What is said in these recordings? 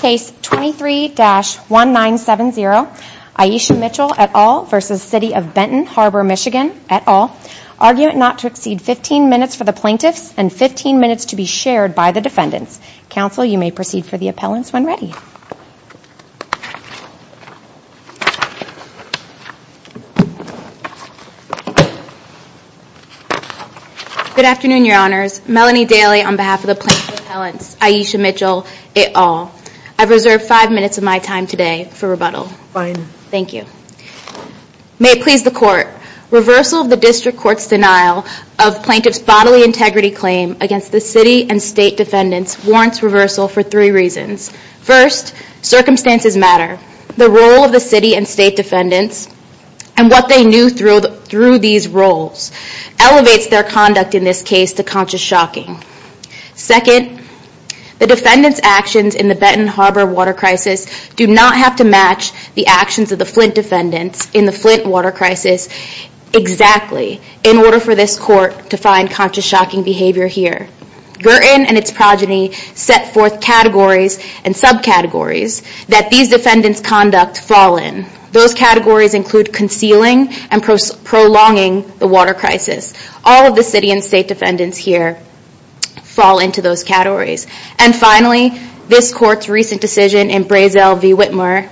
Case 23-1970, Iesha Mitchell et al. v. City of Benton Harbor, MI et al. Argument not to exceed 15 minutes for the plaintiffs and 15 minutes to be shared by the defendants. Counsel, you may proceed for the appellants when ready. Good afternoon, your honors. Melanie Daly on behalf of the plaintiff's appellants, Iesha Mitchell et al. I've reserved five minutes of my time today for rebuttal. Fine. Thank you. May it please the court. Reversal of the district court's denial of plaintiff's bodily integrity claim against the city and state defendants warrants reversal for three reasons. First, circumstances matter. The role of the city and state defendants and what they knew through these roles elevates their conduct in this case to conscious shocking. Second, the defendants' actions in the Benton Harbor water crisis do not have to match the actions of the Flint defendants in the Flint water crisis exactly in order for this court to find conscious shocking behavior here. Girton and its progeny set forth categories and subcategories that these defendants' conduct fall in. Those categories include concealing and prolonging the water crisis. All of the city and state defendants here fall into those categories. And finally, this court's recent decision in Brazel v. Whitmer,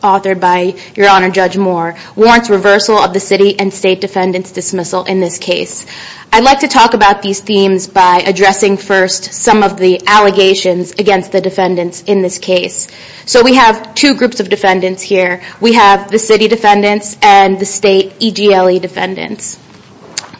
authored by your honor Judge Moore, warrants reversal of the city and state defendants' dismissal in this case. I'd like to talk about these themes by addressing first some of the allegations against the defendants in this case. So we have two groups of defendants here. We have the city defendants and the state EGLE defendants.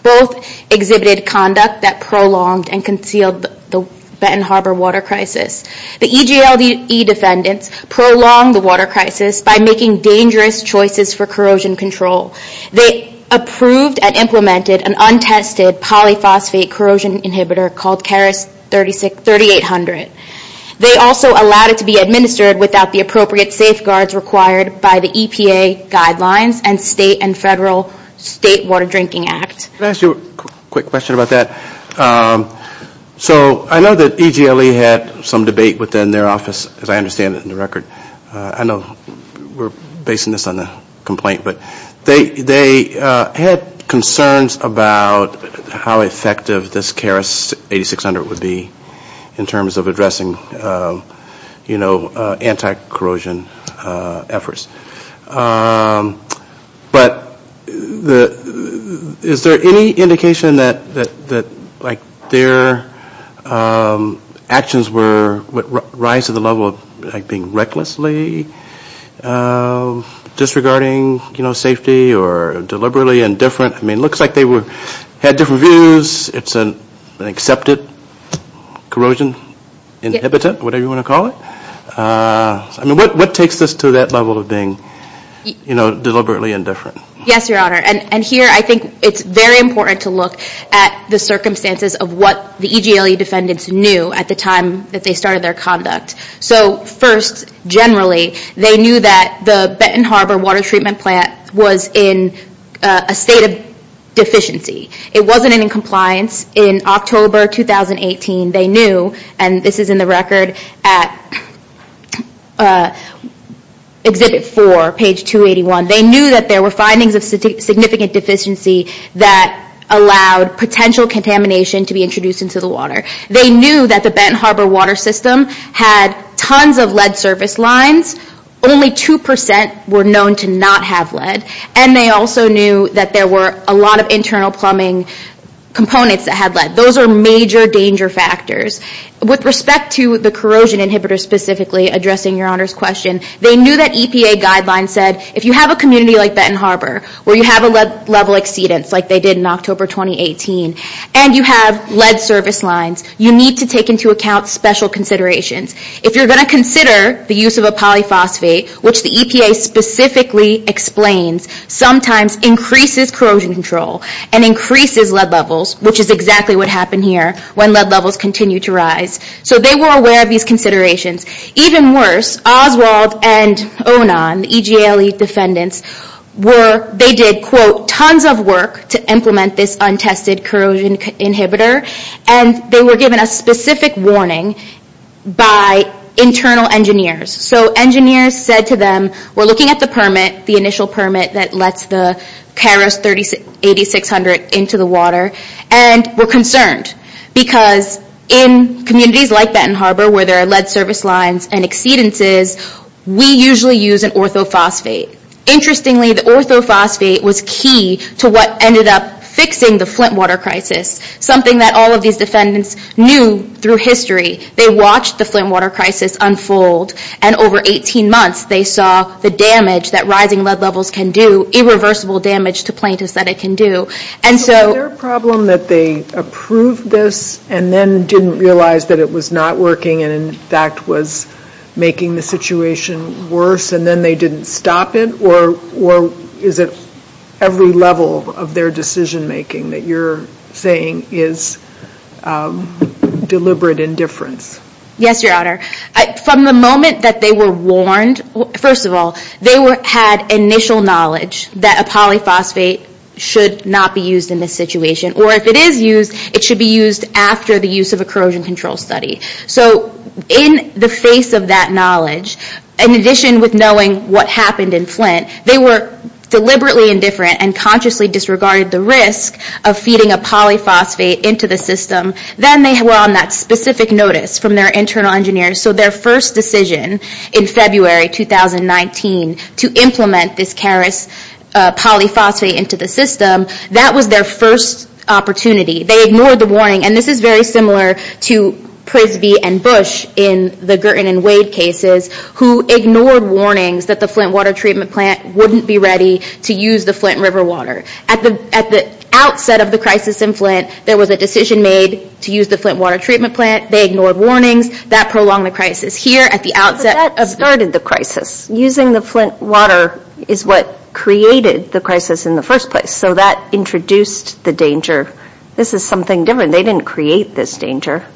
Both exhibited conduct that prolonged and concealed the Benton Harbor water crisis. The EGLE defendants prolonged the water crisis by making dangerous choices for corrosion control. They approved and implemented an untested polyphosphate corrosion inhibitor called Keras 3800. They also allowed it to be administered without the appropriate safeguards required by the EPA guidelines and state and federal State Water Drinking Act. Can I ask you a quick question about that? So I know that EGLE had some debate within their office, as I understand it in the record. I know we're basing this on the complaint, but they had concerns about how effective this Keras 8600 would be in terms of addressing, you know, anti-corrosion efforts. But is there any indication that, like, their actions would rise to the level of, like, being recklessly disregarding, you know, safety or deliberately indifferent? I mean, it looks like they had different views. It's an accepted corrosion inhibitor, whatever you want to call it. I mean, what takes this to that level of being, you know, deliberately indifferent? Yes, Your Honor. And here I think it's very important to look at the circumstances of what the EGLE defendants knew at the time that they started their conduct. So first, generally, they knew that the Benton Harbor water treatment plant was in a state of deficiency. It wasn't in compliance. In October 2018, they knew, and this is in the record at Exhibit 4, page 281, they knew that there were findings of significant deficiency that allowed potential contamination to be introduced into the water. They knew that the Benton Harbor water system had tons of lead surface lines. Only 2% were known to not have lead. And they also knew that there were a lot of internal plumbing components that had lead. Those are major danger factors. With respect to the corrosion inhibitor specifically, addressing Your Honor's question, they knew that EPA guidelines said, if you have a community like Benton Harbor, where you have a lead level exceedance, like they did in October 2018, and you have lead surface lines, you need to take into account special considerations. If you're going to consider the use of a polyphosphate, which the EPA specifically explains, sometimes increases corrosion control and increases lead levels, which is exactly what happened here when lead levels continued to rise. So they were aware of these considerations. Even worse, Oswald and Onan, the EGLE defendants, they did, quote, tons of work to implement this untested corrosion inhibitor, and they were given a specific warning by internal engineers. So engineers said to them, we're looking at the permit, the initial permit that lets the Keros-8600 into the water, and we're concerned because in communities like Benton Harbor, where there are lead surface lines and exceedances, we usually use an orthophosphate. Interestingly, the orthophosphate was key to what ended up fixing the Flint water crisis, something that all of these defendants knew through history. They watched the Flint water crisis unfold, and over 18 months they saw the damage that rising lead levels can do, irreversible damage to plaintiffs that it can do. And so ‑‑ So was there a problem that they approved this and then didn't realize that it was not working and in fact was making the situation worse, and then they didn't stop it? Or is it every level of their decision‑making that you're saying is deliberate indifference? Yes, Your Honor. From the moment that they were warned, first of all, they had initial knowledge that a polyphosphate should not be used in this situation, or if it is used, it should be used after the use of a corrosion control study. So in the face of that knowledge, in addition with knowing what happened in Flint, they were deliberately indifferent and consciously disregarded the risk of feeding a polyphosphate into the system. Then they were on that specific notice from their internal engineer. So their first decision in February 2019 to implement this KERES polyphosphate into the system, that was their first opportunity. They ignored the warning. And this is very similar to Prisby and Bush in the Girton and Wade cases who ignored warnings that the Flint water treatment plant wouldn't be ready to use the Flint river water. At the outset of the crisis in Flint, there was a decision made to use the Flint water treatment plant. They ignored warnings. That prolonged the crisis. Here at the outset ‑‑ But that started the crisis. Using the Flint water is what created the crisis in the first place. So that introduced the danger. This is something different. They didn't create this danger.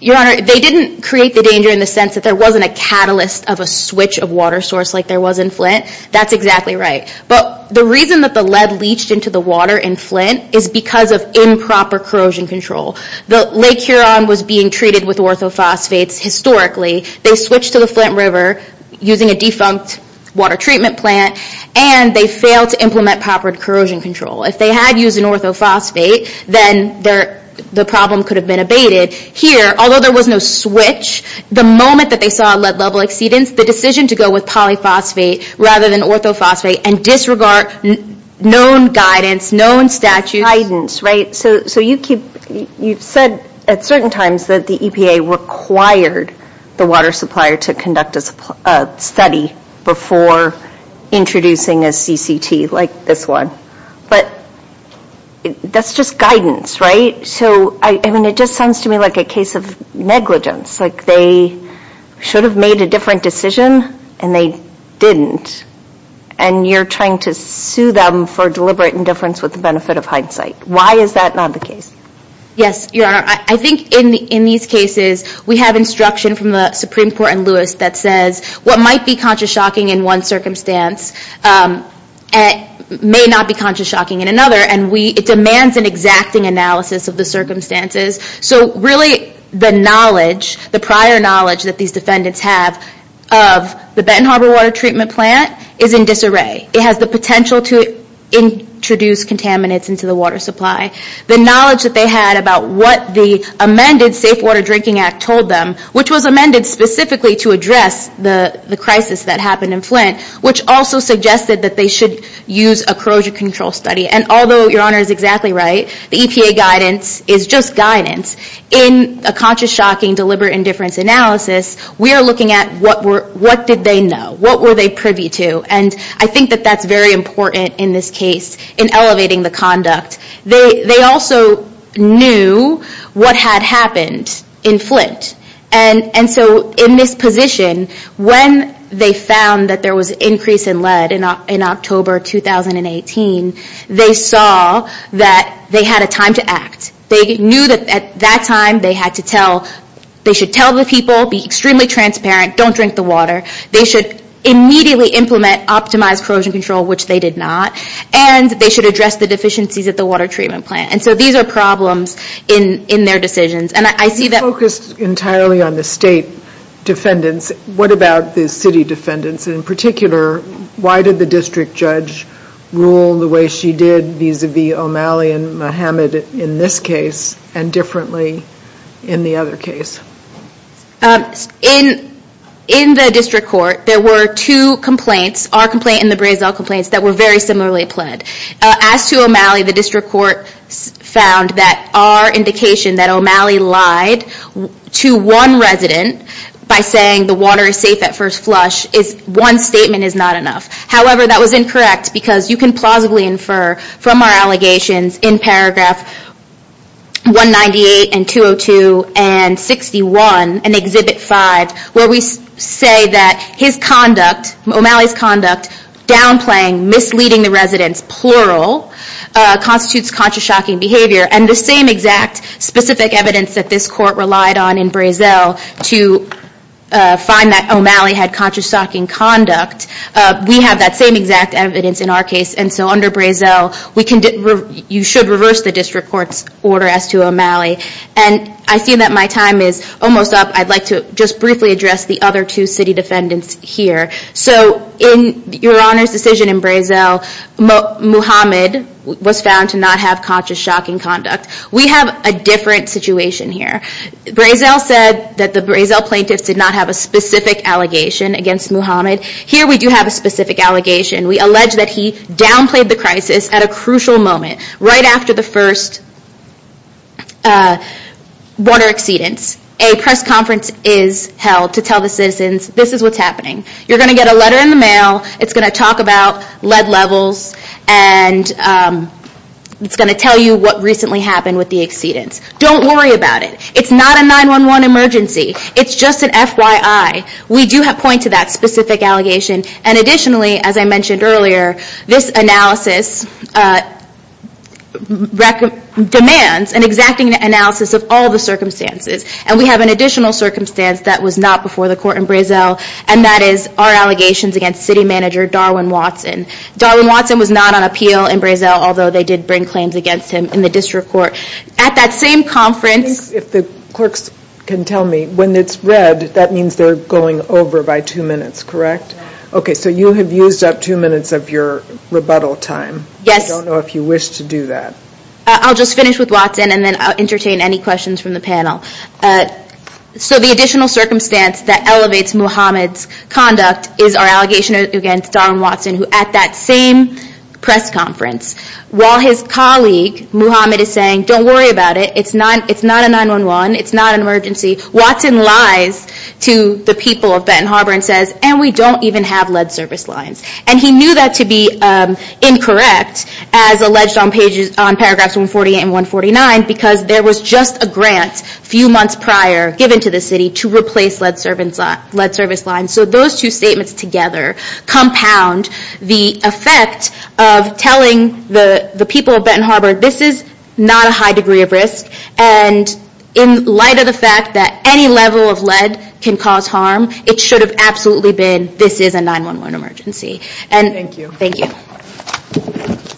Your Honor, they didn't create the danger in the sense that there wasn't a catalyst of a switch of water source like there was in Flint. That's exactly right. But the reason that the lead leached into the water in Flint is because of improper corrosion control. Lake Huron was being treated with orthophosphates historically. They switched to the Flint river using a defunct water treatment plant. And they failed to implement proper corrosion control. If they had used an orthophosphate, then the problem could have been abated. Here, although there was no switch, the moment that they saw a lead level exceedance, the decision to go with polyphosphate rather than orthophosphate and disregard known guidance, known statutes. Guidance, right. So you said at certain times that the EPA required the water supplier to conduct a study before introducing a CCT like this one. But that's just guidance, right. So I mean it just sounds to me like a case of negligence. Like they should have made a different decision and they didn't. And you're trying to sue them for deliberate indifference with the benefit of hindsight. Why is that not the case? Yes, Your Honor. I think in these cases we have instruction from the Supreme Court and Lewis that says what might be conscious shocking in one circumstance may not be conscious shocking in another. And it demands an exacting analysis of the circumstances. So really the prior knowledge that these defendants have of the Benton Harbor water treatment plant is in disarray. It has the potential to introduce contaminants into the water supply. The knowledge that they had about what the amended Safe Water Drinking Act told them, which was amended specifically to address the crisis that happened in Flint, which also suggested that they should use a corrosion control study. And although Your Honor is exactly right, the EPA guidance is just guidance. In a conscious shocking deliberate indifference analysis, we are looking at what did they know? What were they privy to? And I think that that's very important in this case in elevating the conduct. They also knew what had happened in Flint. And so in this position, when they found that there was increase in lead in October 2018, they saw that they had a time to act. They knew that at that time they had to tell, they should tell the people, be extremely transparent, don't drink the water. They should immediately implement optimized corrosion control, which they did not. And they should address the deficiencies at the water treatment plant. And so these are problems in their decisions. And I see that. You focused entirely on the state defendants. What about the city defendants in particular? Why did the district judge rule the way she did vis-a-vis O'Malley and Muhammad in this case and differently in the other case? In the district court, there were two complaints, our complaint and the Brazel complaints that were very similarly pled. As to O'Malley, the district court found that our indication that O'Malley lied to one resident by saying the water is safe at first flush, one statement is not enough. However, that was incorrect because you can plausibly infer from our allegations in paragraph 198 and 202 and 61 and Exhibit 5, where we say that his conduct, O'Malley's conduct, downplaying, misleading the residents, plural, constitutes conscious shocking behavior. And the same exact specific evidence that this court relied on in Brazel to find that O'Malley had conscious shocking conduct, we have that same exact evidence in our case. And so under Brazel, you should reverse the district court's order as to O'Malley. And I see that my time is almost up. I'd like to just briefly address the other two city defendants here. So in your Honor's decision in Brazel, Muhammad was found to not have conscious shocking conduct. We have a different situation here. Brazel said that the Brazel plaintiffs did not have a specific allegation against Muhammad. Here we do have a specific allegation. We allege that he downplayed the crisis at a crucial moment, right after the first border exceedance. A press conference is held to tell the citizens, this is what's happening. You're going to get a letter in the mail. It's going to talk about lead levels, and it's going to tell you what recently happened with the exceedance. Don't worry about it. It's not a 911 emergency. It's just an FYI. We do point to that specific allegation. And additionally, as I mentioned earlier, this analysis demands an exacting analysis of all the circumstances. And we have an additional circumstance that was not before the court in Brazel, and that is our allegations against city manager Darwin Watson. Darwin Watson was not on appeal in Brazel, although they did bring claims against him in the district court. At that same conference... The clerks can tell me, when it's red, that means they're going over by two minutes, correct? Yes. Okay, so you have used up two minutes of your rebuttal time. Yes. I don't know if you wish to do that. I'll just finish with Watson, and then I'll entertain any questions from the panel. So the additional circumstance that elevates Muhammad's conduct is our allegation against Darwin Watson, who at that same press conference, while his colleague, Muhammad, is saying, don't worry about it, it's not a 911, it's not an emergency, Watson lies to the people of Benton Harbor and says, and we don't even have lead service lines. And he knew that to be incorrect, as alleged on paragraphs 148 and 149, because there was just a grant a few months prior given to the city to replace lead service lines. So those two statements together compound the effect of telling the people of Benton Harbor, this is not a high degree of risk, and in light of the fact that any level of lead can cause harm, it should have absolutely been, this is a 911 emergency. Thank you. Thank you.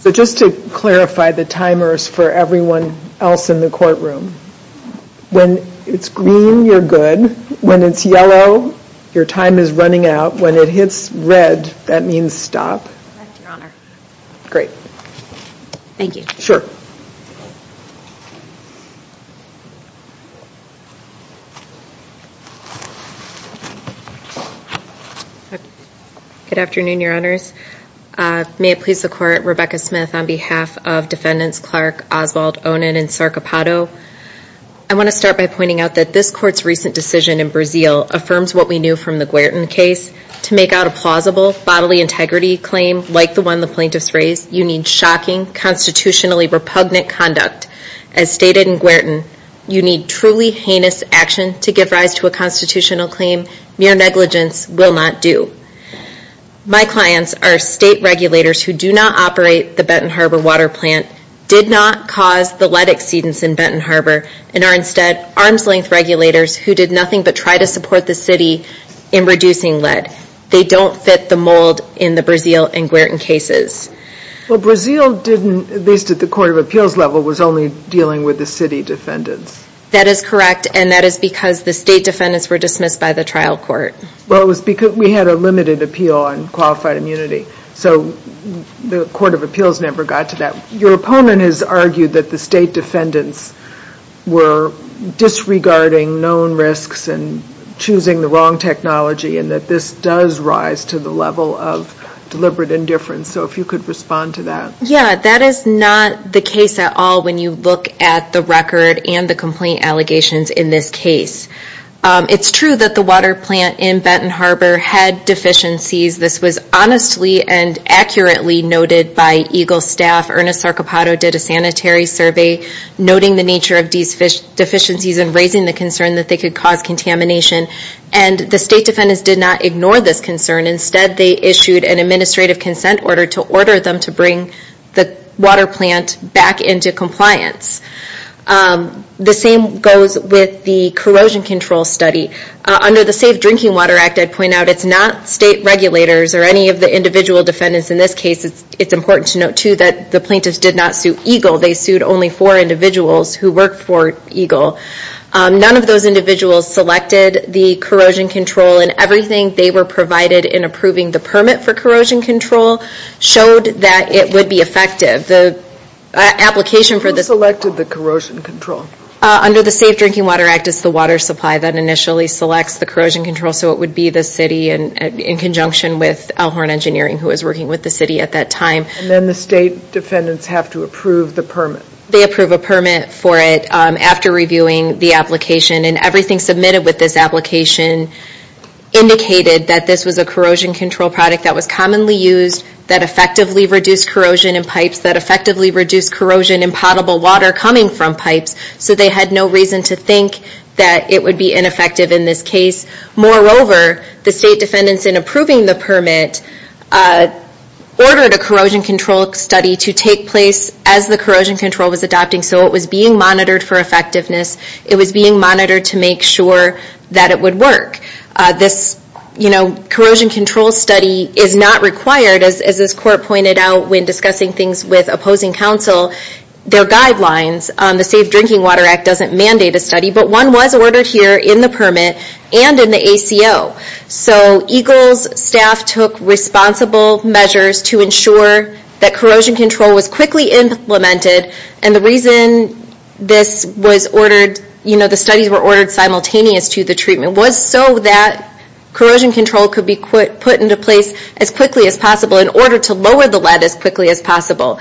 So just to clarify the timers for everyone else in the courtroom. When it's green, you're good. When it's yellow, your time is running out. When it hits red, that means stop. Correct, Your Honor. Great. Thank you. Sure. Good afternoon, Your Honors. May it please the Court, Rebecca Smith on behalf of Defendants Clark, Oswald, Onan, and Sarcopato. I want to start by pointing out that this Court's recent decision in Brazil affirms what we knew from the Guertin case. To make out a plausible bodily integrity claim like the one the plaintiffs raised, you need shocking, constitutionally repugnant conduct. As stated in Guertin, you need truly heinous action to give rise to a constitutional claim mere negligence will not do. My clients are state regulators who do not operate the Benton Harbor water plant, did not cause the lead exceedance in Benton Harbor, and are instead arm's-length regulators who did nothing but try to support the city in reducing lead. They don't fit the mold in the Brazil and Guertin cases. Well, Brazil didn't, at least at the court of appeals level, was only dealing with the city defendants. That is correct, and that is because the state defendants were dismissed by the trial court. Well, it was because we had a limited appeal on qualified immunity, so the court of appeals never got to that. Your opponent has argued that the state defendants were disregarding known risks and choosing the wrong technology and that this does rise to the level of deliberate indifference, so if you could respond to that. Yeah, that is not the case at all when you look at the record and the complaint allegations in this case. It's true that the water plant in Benton Harbor had deficiencies. This was honestly and accurately noted by EGLE staff. Ernest Sarchipato did a sanitary survey noting the nature of these deficiencies and raising the concern that they could cause contamination, and the state defendants did not ignore this concern. Instead, they issued an administrative consent order to order them to bring the water plant back into compliance. The same goes with the corrosion control study. Under the Safe Drinking Water Act, I'd point out it's not state regulators or any of the individual defendants in this case. It's important to note, too, that the plaintiffs did not sue EGLE. They sued only four individuals who worked for EGLE. None of those individuals selected the corrosion control, and everything they were provided in approving the permit for corrosion control showed that it would be effective. Who selected the corrosion control? Under the Safe Drinking Water Act, it's the water supply that initially selects the corrosion control, so it would be the city in conjunction with Elhorn Engineering, who was working with the city at that time. And then the state defendants have to approve the permit. They approve a permit for it after reviewing the application, and everything submitted with this application indicated that this was a corrosion control product that was commonly used, that effectively reduced corrosion in pipes, that effectively reduced corrosion in potable water coming from pipes, so they had no reason to think that it would be ineffective in this case. Moreover, the state defendants in approving the permit ordered a corrosion control study to take place as the corrosion control was adopting, so it was being monitored for effectiveness. It was being monitored to make sure that it would work. This corrosion control study is not required. As this court pointed out when discussing things with opposing counsel, their guidelines on the Safe Drinking Water Act doesn't mandate a study, but one was ordered here in the permit and in the ACO. So EGLE's staff took responsible measures to ensure that corrosion control was quickly implemented, and the reason this was ordered, you know, the studies were ordered simultaneous to the treatment, was so that corrosion control could be put into place as quickly as possible in order to lower the lead as quickly as possible.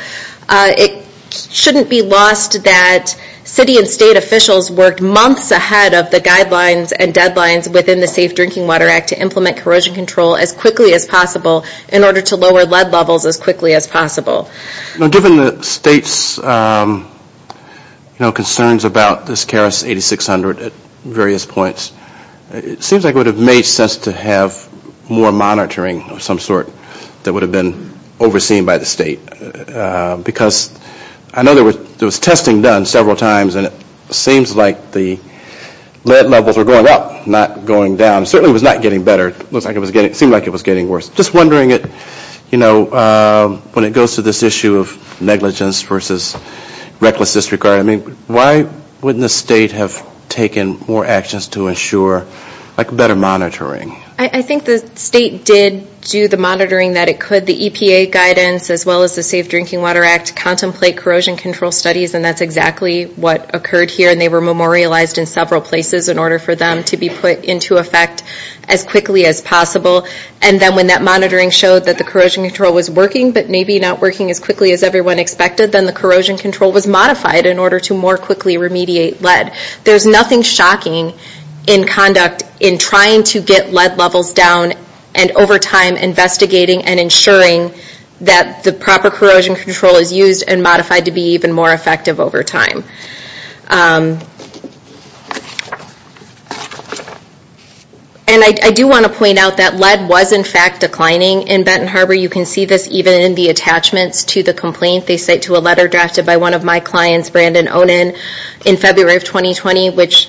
It shouldn't be lost that city and state officials worked months ahead of the guidelines and deadlines within the Safe Drinking Water Act to implement corrosion control as quickly as possible in order to lower lead levels as quickly as possible. Given the state's concerns about this KRAS 8600 at various points, it seems like it would have made sense to have more monitoring of some sort that would have been overseen by the state, because I know there was testing done several times, and it seems like the lead levels were going up, not going down. It certainly was not getting better. It seemed like it was getting worse. Just wondering, you know, when it goes to this issue of negligence versus reckless disregard, I mean, why wouldn't the state have taken more actions to ensure, like, better monitoring? I think the state did do the monitoring that it could. The EPA guidance, as well as the Safe Drinking Water Act, contemplate corrosion control studies, and that's exactly what occurred here, and they were memorialized in several places in order for them to be put into effect as quickly as possible. And then when that monitoring showed that the corrosion control was working, but maybe not working as quickly as everyone expected, then the corrosion control was modified in order to more quickly remediate lead. There's nothing shocking in conduct in trying to get lead levels down, and over time investigating and ensuring that the proper corrosion control is used and modified to be even more effective over time. And I do want to point out that lead was, in fact, declining in Benton Harbor. You can see this even in the attachments to the complaint. They cite to a letter drafted by one of my clients, Brandon Onan, in February of 2020, which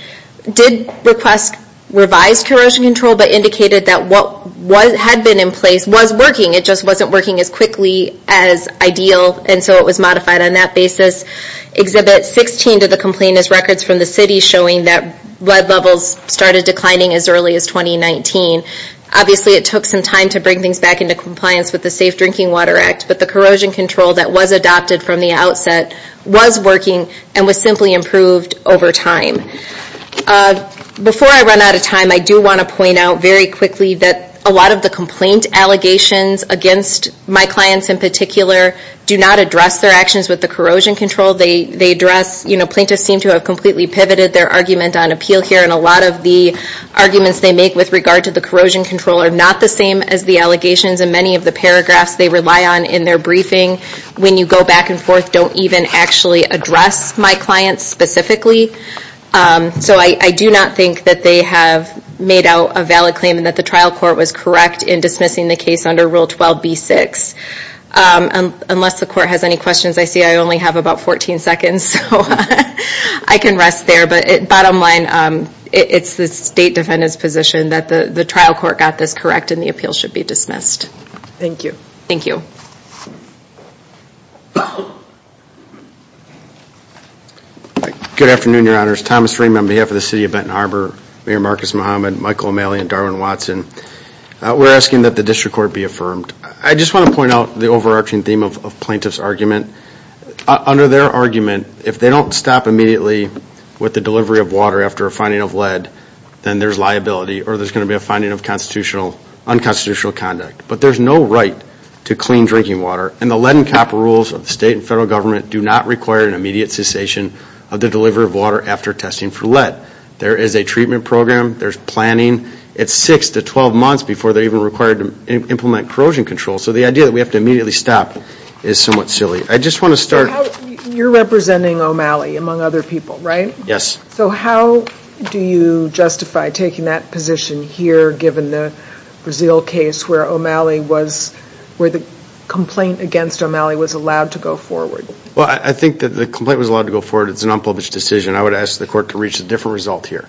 did request revised corrosion control, but indicated that what had been in place was working. It just wasn't working as quickly as ideal, and so it was modified on that basis. Exhibit 16 of the complaint has records from the city showing that lead levels started declining as early as 2019. Obviously, it took some time to bring things back into compliance with the Safe Drinking Water Act, but the corrosion control that was adopted from the outset was working and was simply improved over time. Before I run out of time, I do want to point out very quickly that a lot of the complaint allegations against my clients in particular do not address their actions with the corrosion control. They address, you know, plaintiffs seem to have completely pivoted their argument on appeal here, and a lot of the arguments they make with regard to the corrosion control are not the same as the allegations, and many of the paragraphs they rely on in their briefing, when you go back and forth, don't even actually address my clients specifically. So I do not think that they have made out a valid claim and that the trial court was correct in dismissing the case under Rule 12b-6. Unless the court has any questions, I see I only have about 14 seconds, so I can rest there. But bottom line, it's the State Defendant's position that the trial court got this correct and the appeal should be dismissed. Thank you. Thank you. Good afternoon, Your Honors. Thomas Freeman on behalf of the City of Benton Harbor, Mayor Marcus Muhammad, Michael O'Malley, and Darwin Watson. We're asking that the district court be affirmed. I just want to point out the overarching theme of plaintiff's argument. Under their argument, if they don't stop immediately with the delivery of water after a finding of lead, then there's liability or there's going to be a finding of unconstitutional conduct. But there's no right to clean drinking water, and the lead and copper rules of the state and federal government do not require an immediate cessation of the delivery of water after testing for lead. There is a treatment program. There's planning. It's six to 12 months before they're even required to implement corrosion control. So the idea that we have to immediately stop is somewhat silly. I just want to start. You're representing O'Malley, among other people, right? Yes. So how do you justify taking that position here, given the Brazil case where O'Malley was, where the complaint against O'Malley was allowed to go forward? Well, I think that the complaint was allowed to go forward. It's an unpublished decision. I would ask the court to reach a different result here.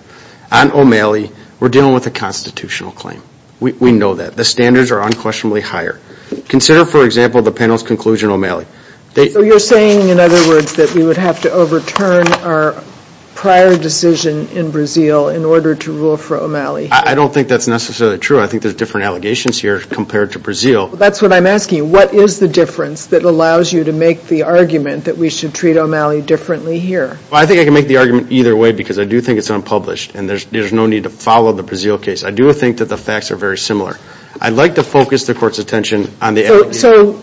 On O'Malley, we're dealing with a constitutional claim. We know that. The standards are unquestionably higher. Consider, for example, the panel's conclusion on O'Malley. So you're saying, in other words, that we would have to overturn our prior decision in Brazil in order to rule for O'Malley? I don't think that's necessarily true. I think there's different allegations here compared to Brazil. That's what I'm asking. What is the difference that allows you to make the argument that we should treat O'Malley differently here? Well, I think I can make the argument either way because I do think it's unpublished, and there's no need to follow the Brazil case. I do think that the facts are very similar. I'd like to focus the court's attention on the allegations. So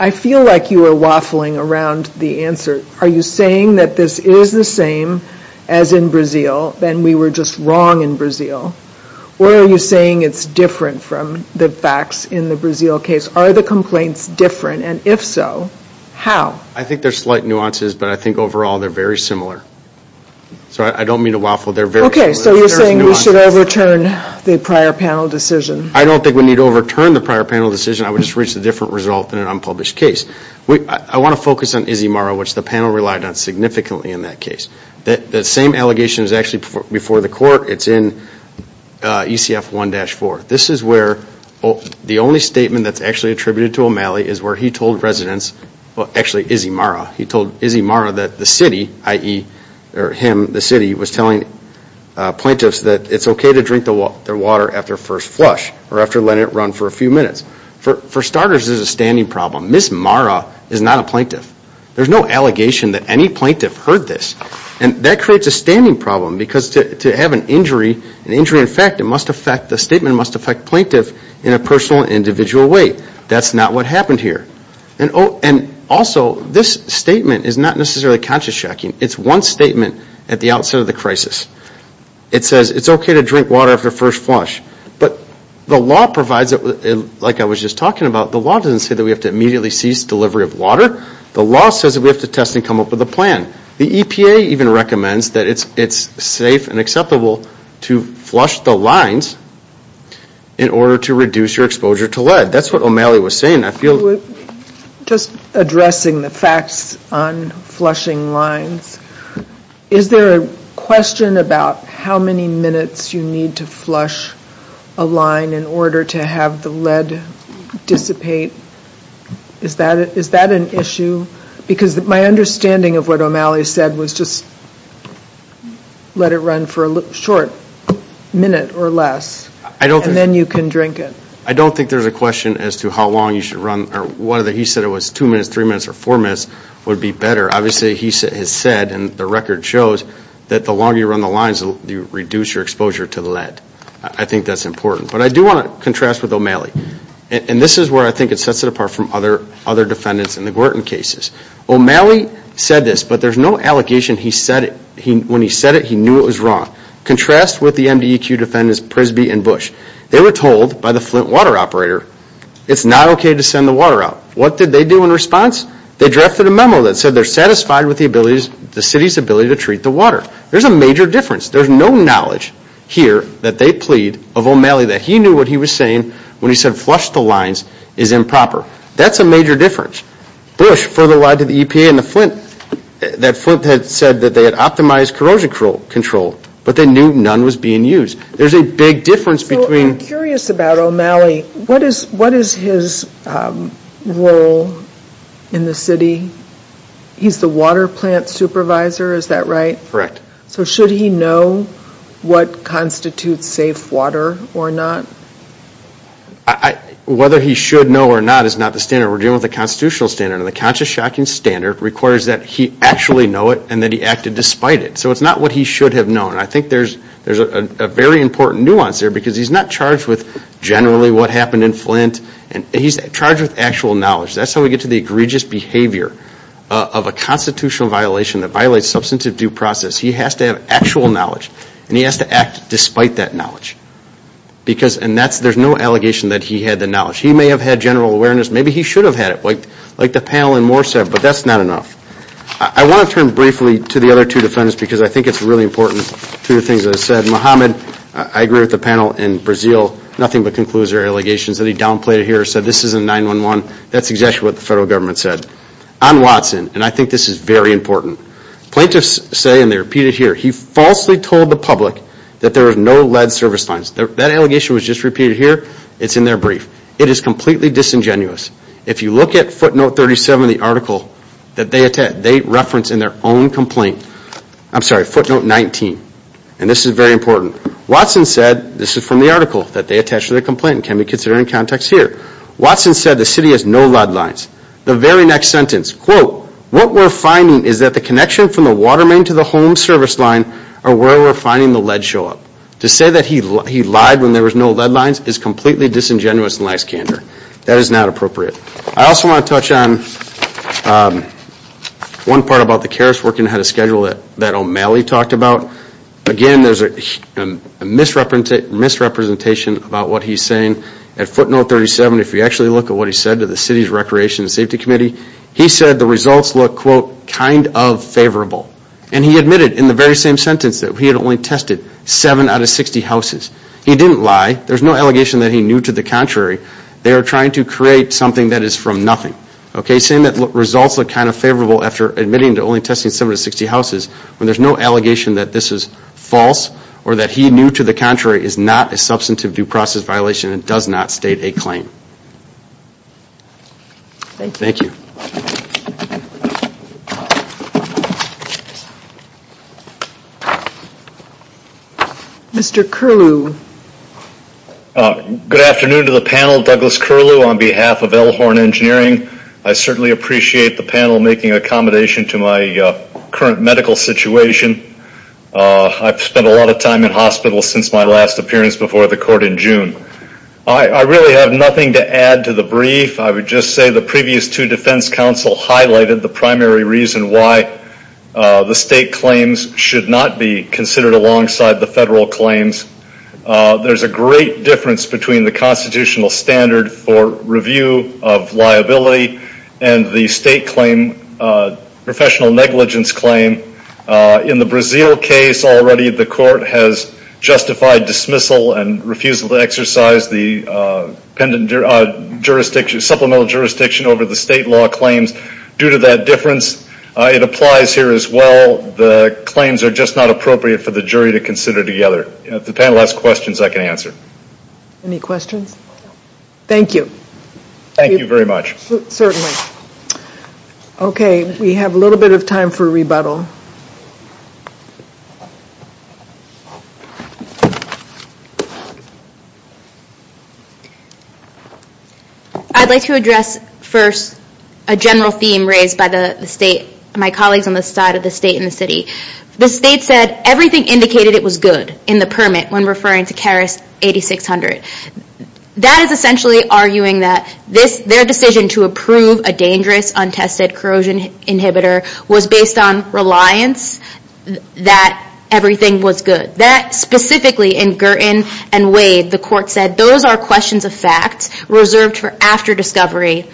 I feel like you are waffling around the answer. Are you saying that this is the same as in Brazil, and we were just wrong in Brazil? Or are you saying it's different from the facts in the Brazil case? Are the complaints different? And if so, how? I think there's slight nuances, but I think overall they're very similar. So I don't mean to waffle. They're very similar. Okay, so you're saying we should overturn the prior panel decision. I don't think we need to overturn the prior panel decision. I would just reach a different result in an unpublished case. I want to focus on Izimarra, which the panel relied on significantly in that case. That same allegation is actually before the court. It's in ECF 1-4. This is where the only statement that's actually attributed to O'Malley is where he told residents, well, actually Izimarra, he told Izimarra that the city, i.e., him, the city, was telling plaintiffs that it's okay to drink their water after first flush or after letting it run for a few minutes. For starters, this is a standing problem. Ms. Marra is not a plaintiff. There's no allegation that any plaintiff heard this. And that creates a standing problem because to have an injury, an injury in fact, the statement must affect plaintiff in a personal and individual way. That's not what happened here. And also, this statement is not necessarily conscious checking. It's one statement at the outset of the crisis. It says it's okay to drink water after first flush. But the law provides, like I was just talking about, the law doesn't say that we have to immediately cease delivery of water. The law says that we have to test and come up with a plan. The EPA even recommends that it's safe and acceptable to flush the lines in order to reduce your exposure to lead. That's what O'Malley was saying. Just addressing the facts on flushing lines, is there a question about how many minutes you need to flush a line in order to have the lead dissipate? Is that an issue? Because my understanding of what O'Malley said was just let it run for a short minute or less. And then you can drink it. I don't think there's a question as to how long you should run. He said it was two minutes, three minutes, or four minutes would be better. Obviously, he has said and the record shows that the longer you run the lines, you reduce your exposure to lead. I think that's important. But I do want to contrast with O'Malley. And this is where I think it sets it apart from other defendants in the Gorton cases. O'Malley said this, but there's no allegation when he said it, he knew it was wrong. Contrast with the MDEQ defendants, Prisby and Bush. They were told by the Flint water operator it's not okay to send the water out. What did they do in response? They drafted a memo that said they're satisfied with the city's ability to treat the water. There's a major difference. There's no knowledge here that they plead of O'Malley that he knew what he was saying when he said flush the lines is improper. That's a major difference. Bush further lied to the EPA and the Flint. That Flint had said that they had optimized corrosion control, but they knew none was being used. There's a big difference between. So I'm curious about O'Malley. What is his role in the city? He's the water plant supervisor, is that right? Correct. So should he know what constitutes safe water or not? Whether he should know or not is not the standard. We're dealing with a constitutional standard. And the conscious shocking standard requires that he actually know it and that he acted despite it. So it's not what he should have known. I think there's a very important nuance there because he's not charged with generally what happened in Flint. He's charged with actual knowledge. That's how we get to the egregious behavior of a constitutional violation that violates substantive due process. He has to have actual knowledge, and he has to act despite that knowledge. And there's no allegation that he had the knowledge. He may have had general awareness. Maybe he should have had it, like the panel in Morsev, but that's not enough. I want to turn briefly to the other two defendants because I think it's really important. Two of the things that I said, Mohammed, I agree with the panel in Brazil, nothing but conclusive allegations that he downplayed it here, said this isn't 9-1-1. That's exactly what the federal government said. On Watson, and I think this is very important, plaintiffs say, and they repeat it here, he falsely told the public that there was no lead service lines. That allegation was just repeated here. It's in their brief. It is completely disingenuous. If you look at footnote 37 of the article that they reference in their own complaint, I'm sorry, footnote 19, and this is very important. Watson said, this is from the article that they attached to their complaint and can be considered in context here. Watson said the city has no lead lines. The very next sentence, quote, what we're finding is that the connection from the water main to the home service line are where we're finding the lead show up. To say that he lied when there was no lead lines is completely disingenuous and lacks candor. That is not appropriate. I also want to touch on one part about the carers working ahead of schedule that O'Malley talked about. Again, there's a misrepresentation about what he's saying. At footnote 37, if you actually look at what he said to the City's Recreation and Safety Committee, he said the results look, quote, kind of favorable. And he admitted in the very same sentence that he had only tested 7 out of 60 houses. He didn't lie. There's no allegation that he knew to the contrary. They are trying to create something that is from nothing. Saying that results look kind of favorable after admitting to only testing 7 out of 60 houses when there's no allegation that this is false or that he knew to the contrary is not a substantive due process violation and does not state a claim. Thank you. Mr. Curlew. Good afternoon to the panel. Douglas Curlew on behalf of Elhorn Engineering. I certainly appreciate the panel making accommodation to my current medical situation. I've spent a lot of time in hospital since my last appearance before the court in June. I really have nothing to add to the brief. I would just say the previous two defense counsel highlighted the primary reason why the state claims should not be considered alongside the federal claims. There's a great difference between the constitutional standard for review of liability and the state claim, professional negligence claim. In the Brazil case, already the court has justified dismissal and refused to exercise the supplemental jurisdiction over the state law claims. Due to that difference, it applies here as well. The claims are just not appropriate for the jury to consider together. If the panel has questions, I can answer. Any questions? Thank you. Thank you very much. Certainly. Okay, we have a little bit of time for rebuttal. I'd like to address first a general theme raised by my colleagues on the side of the state and the city. The state said everything indicated it was good in the permit when referring to CARES 8600. That is essentially arguing that their decision to approve a dangerous, untested corrosion inhibitor was based on reliance that everything was good. Specifically in Girton and Wade, the court said those are questions of fact reserved for after discovery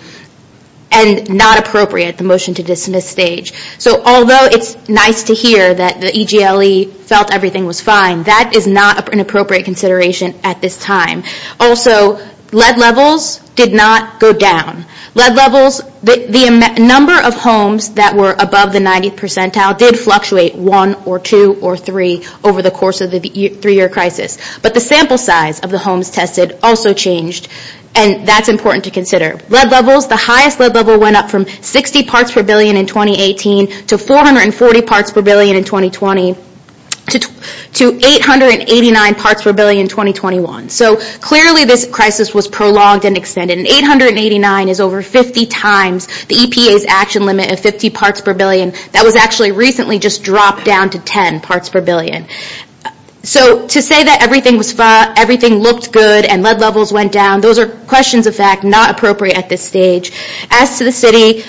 and not appropriate, the motion to dismiss stage. Although it's nice to hear that the EGLE felt everything was fine, that is not an appropriate consideration at this time. Also, lead levels did not go down. Lead levels, the number of homes that were above the 90th percentile did fluctuate one or two or three over the course of the three-year crisis. But the sample size of the homes tested also changed, and that's important to consider. Lead levels, the highest lead level went up from 60 parts per billion in 2018 to 440 parts per billion in 2020 to 889 parts per billion in 2021. So clearly this crisis was prolonged and extended. And 889 is over 50 times the EPA's action limit of 50 parts per billion. That was actually recently just dropped down to 10 parts per billion. So to say that everything looked good and lead levels went down, those are questions of fact not appropriate at this stage. As to the city,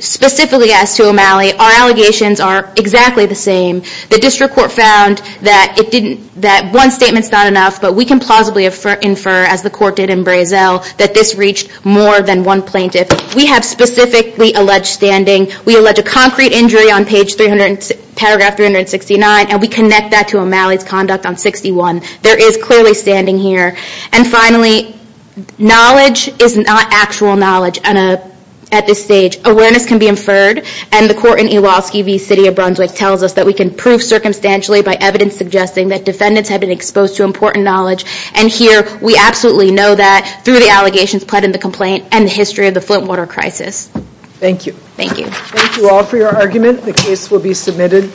specifically as to O'Malley, our allegations are exactly the same. The district court found that one statement's not enough, but we can plausibly infer, as the court did in Brazel, that this reached more than one plaintiff. We have specifically alleged standing. We allege a concrete injury on paragraph 369, and we connect that to O'Malley's conduct on 61. There is clearly standing here. And finally, knowledge is not actual knowledge at this stage. Awareness can be inferred, and the court in Iwaski v. City of Brunswick tells us that we can prove circumstantially by evidence suggesting that defendants have been exposed to important knowledge. And here we absolutely know that through the allegations put in the complaint and the history of the Flint water crisis. Thank you. Thank you. Thank you all for your argument. The case will be submitted.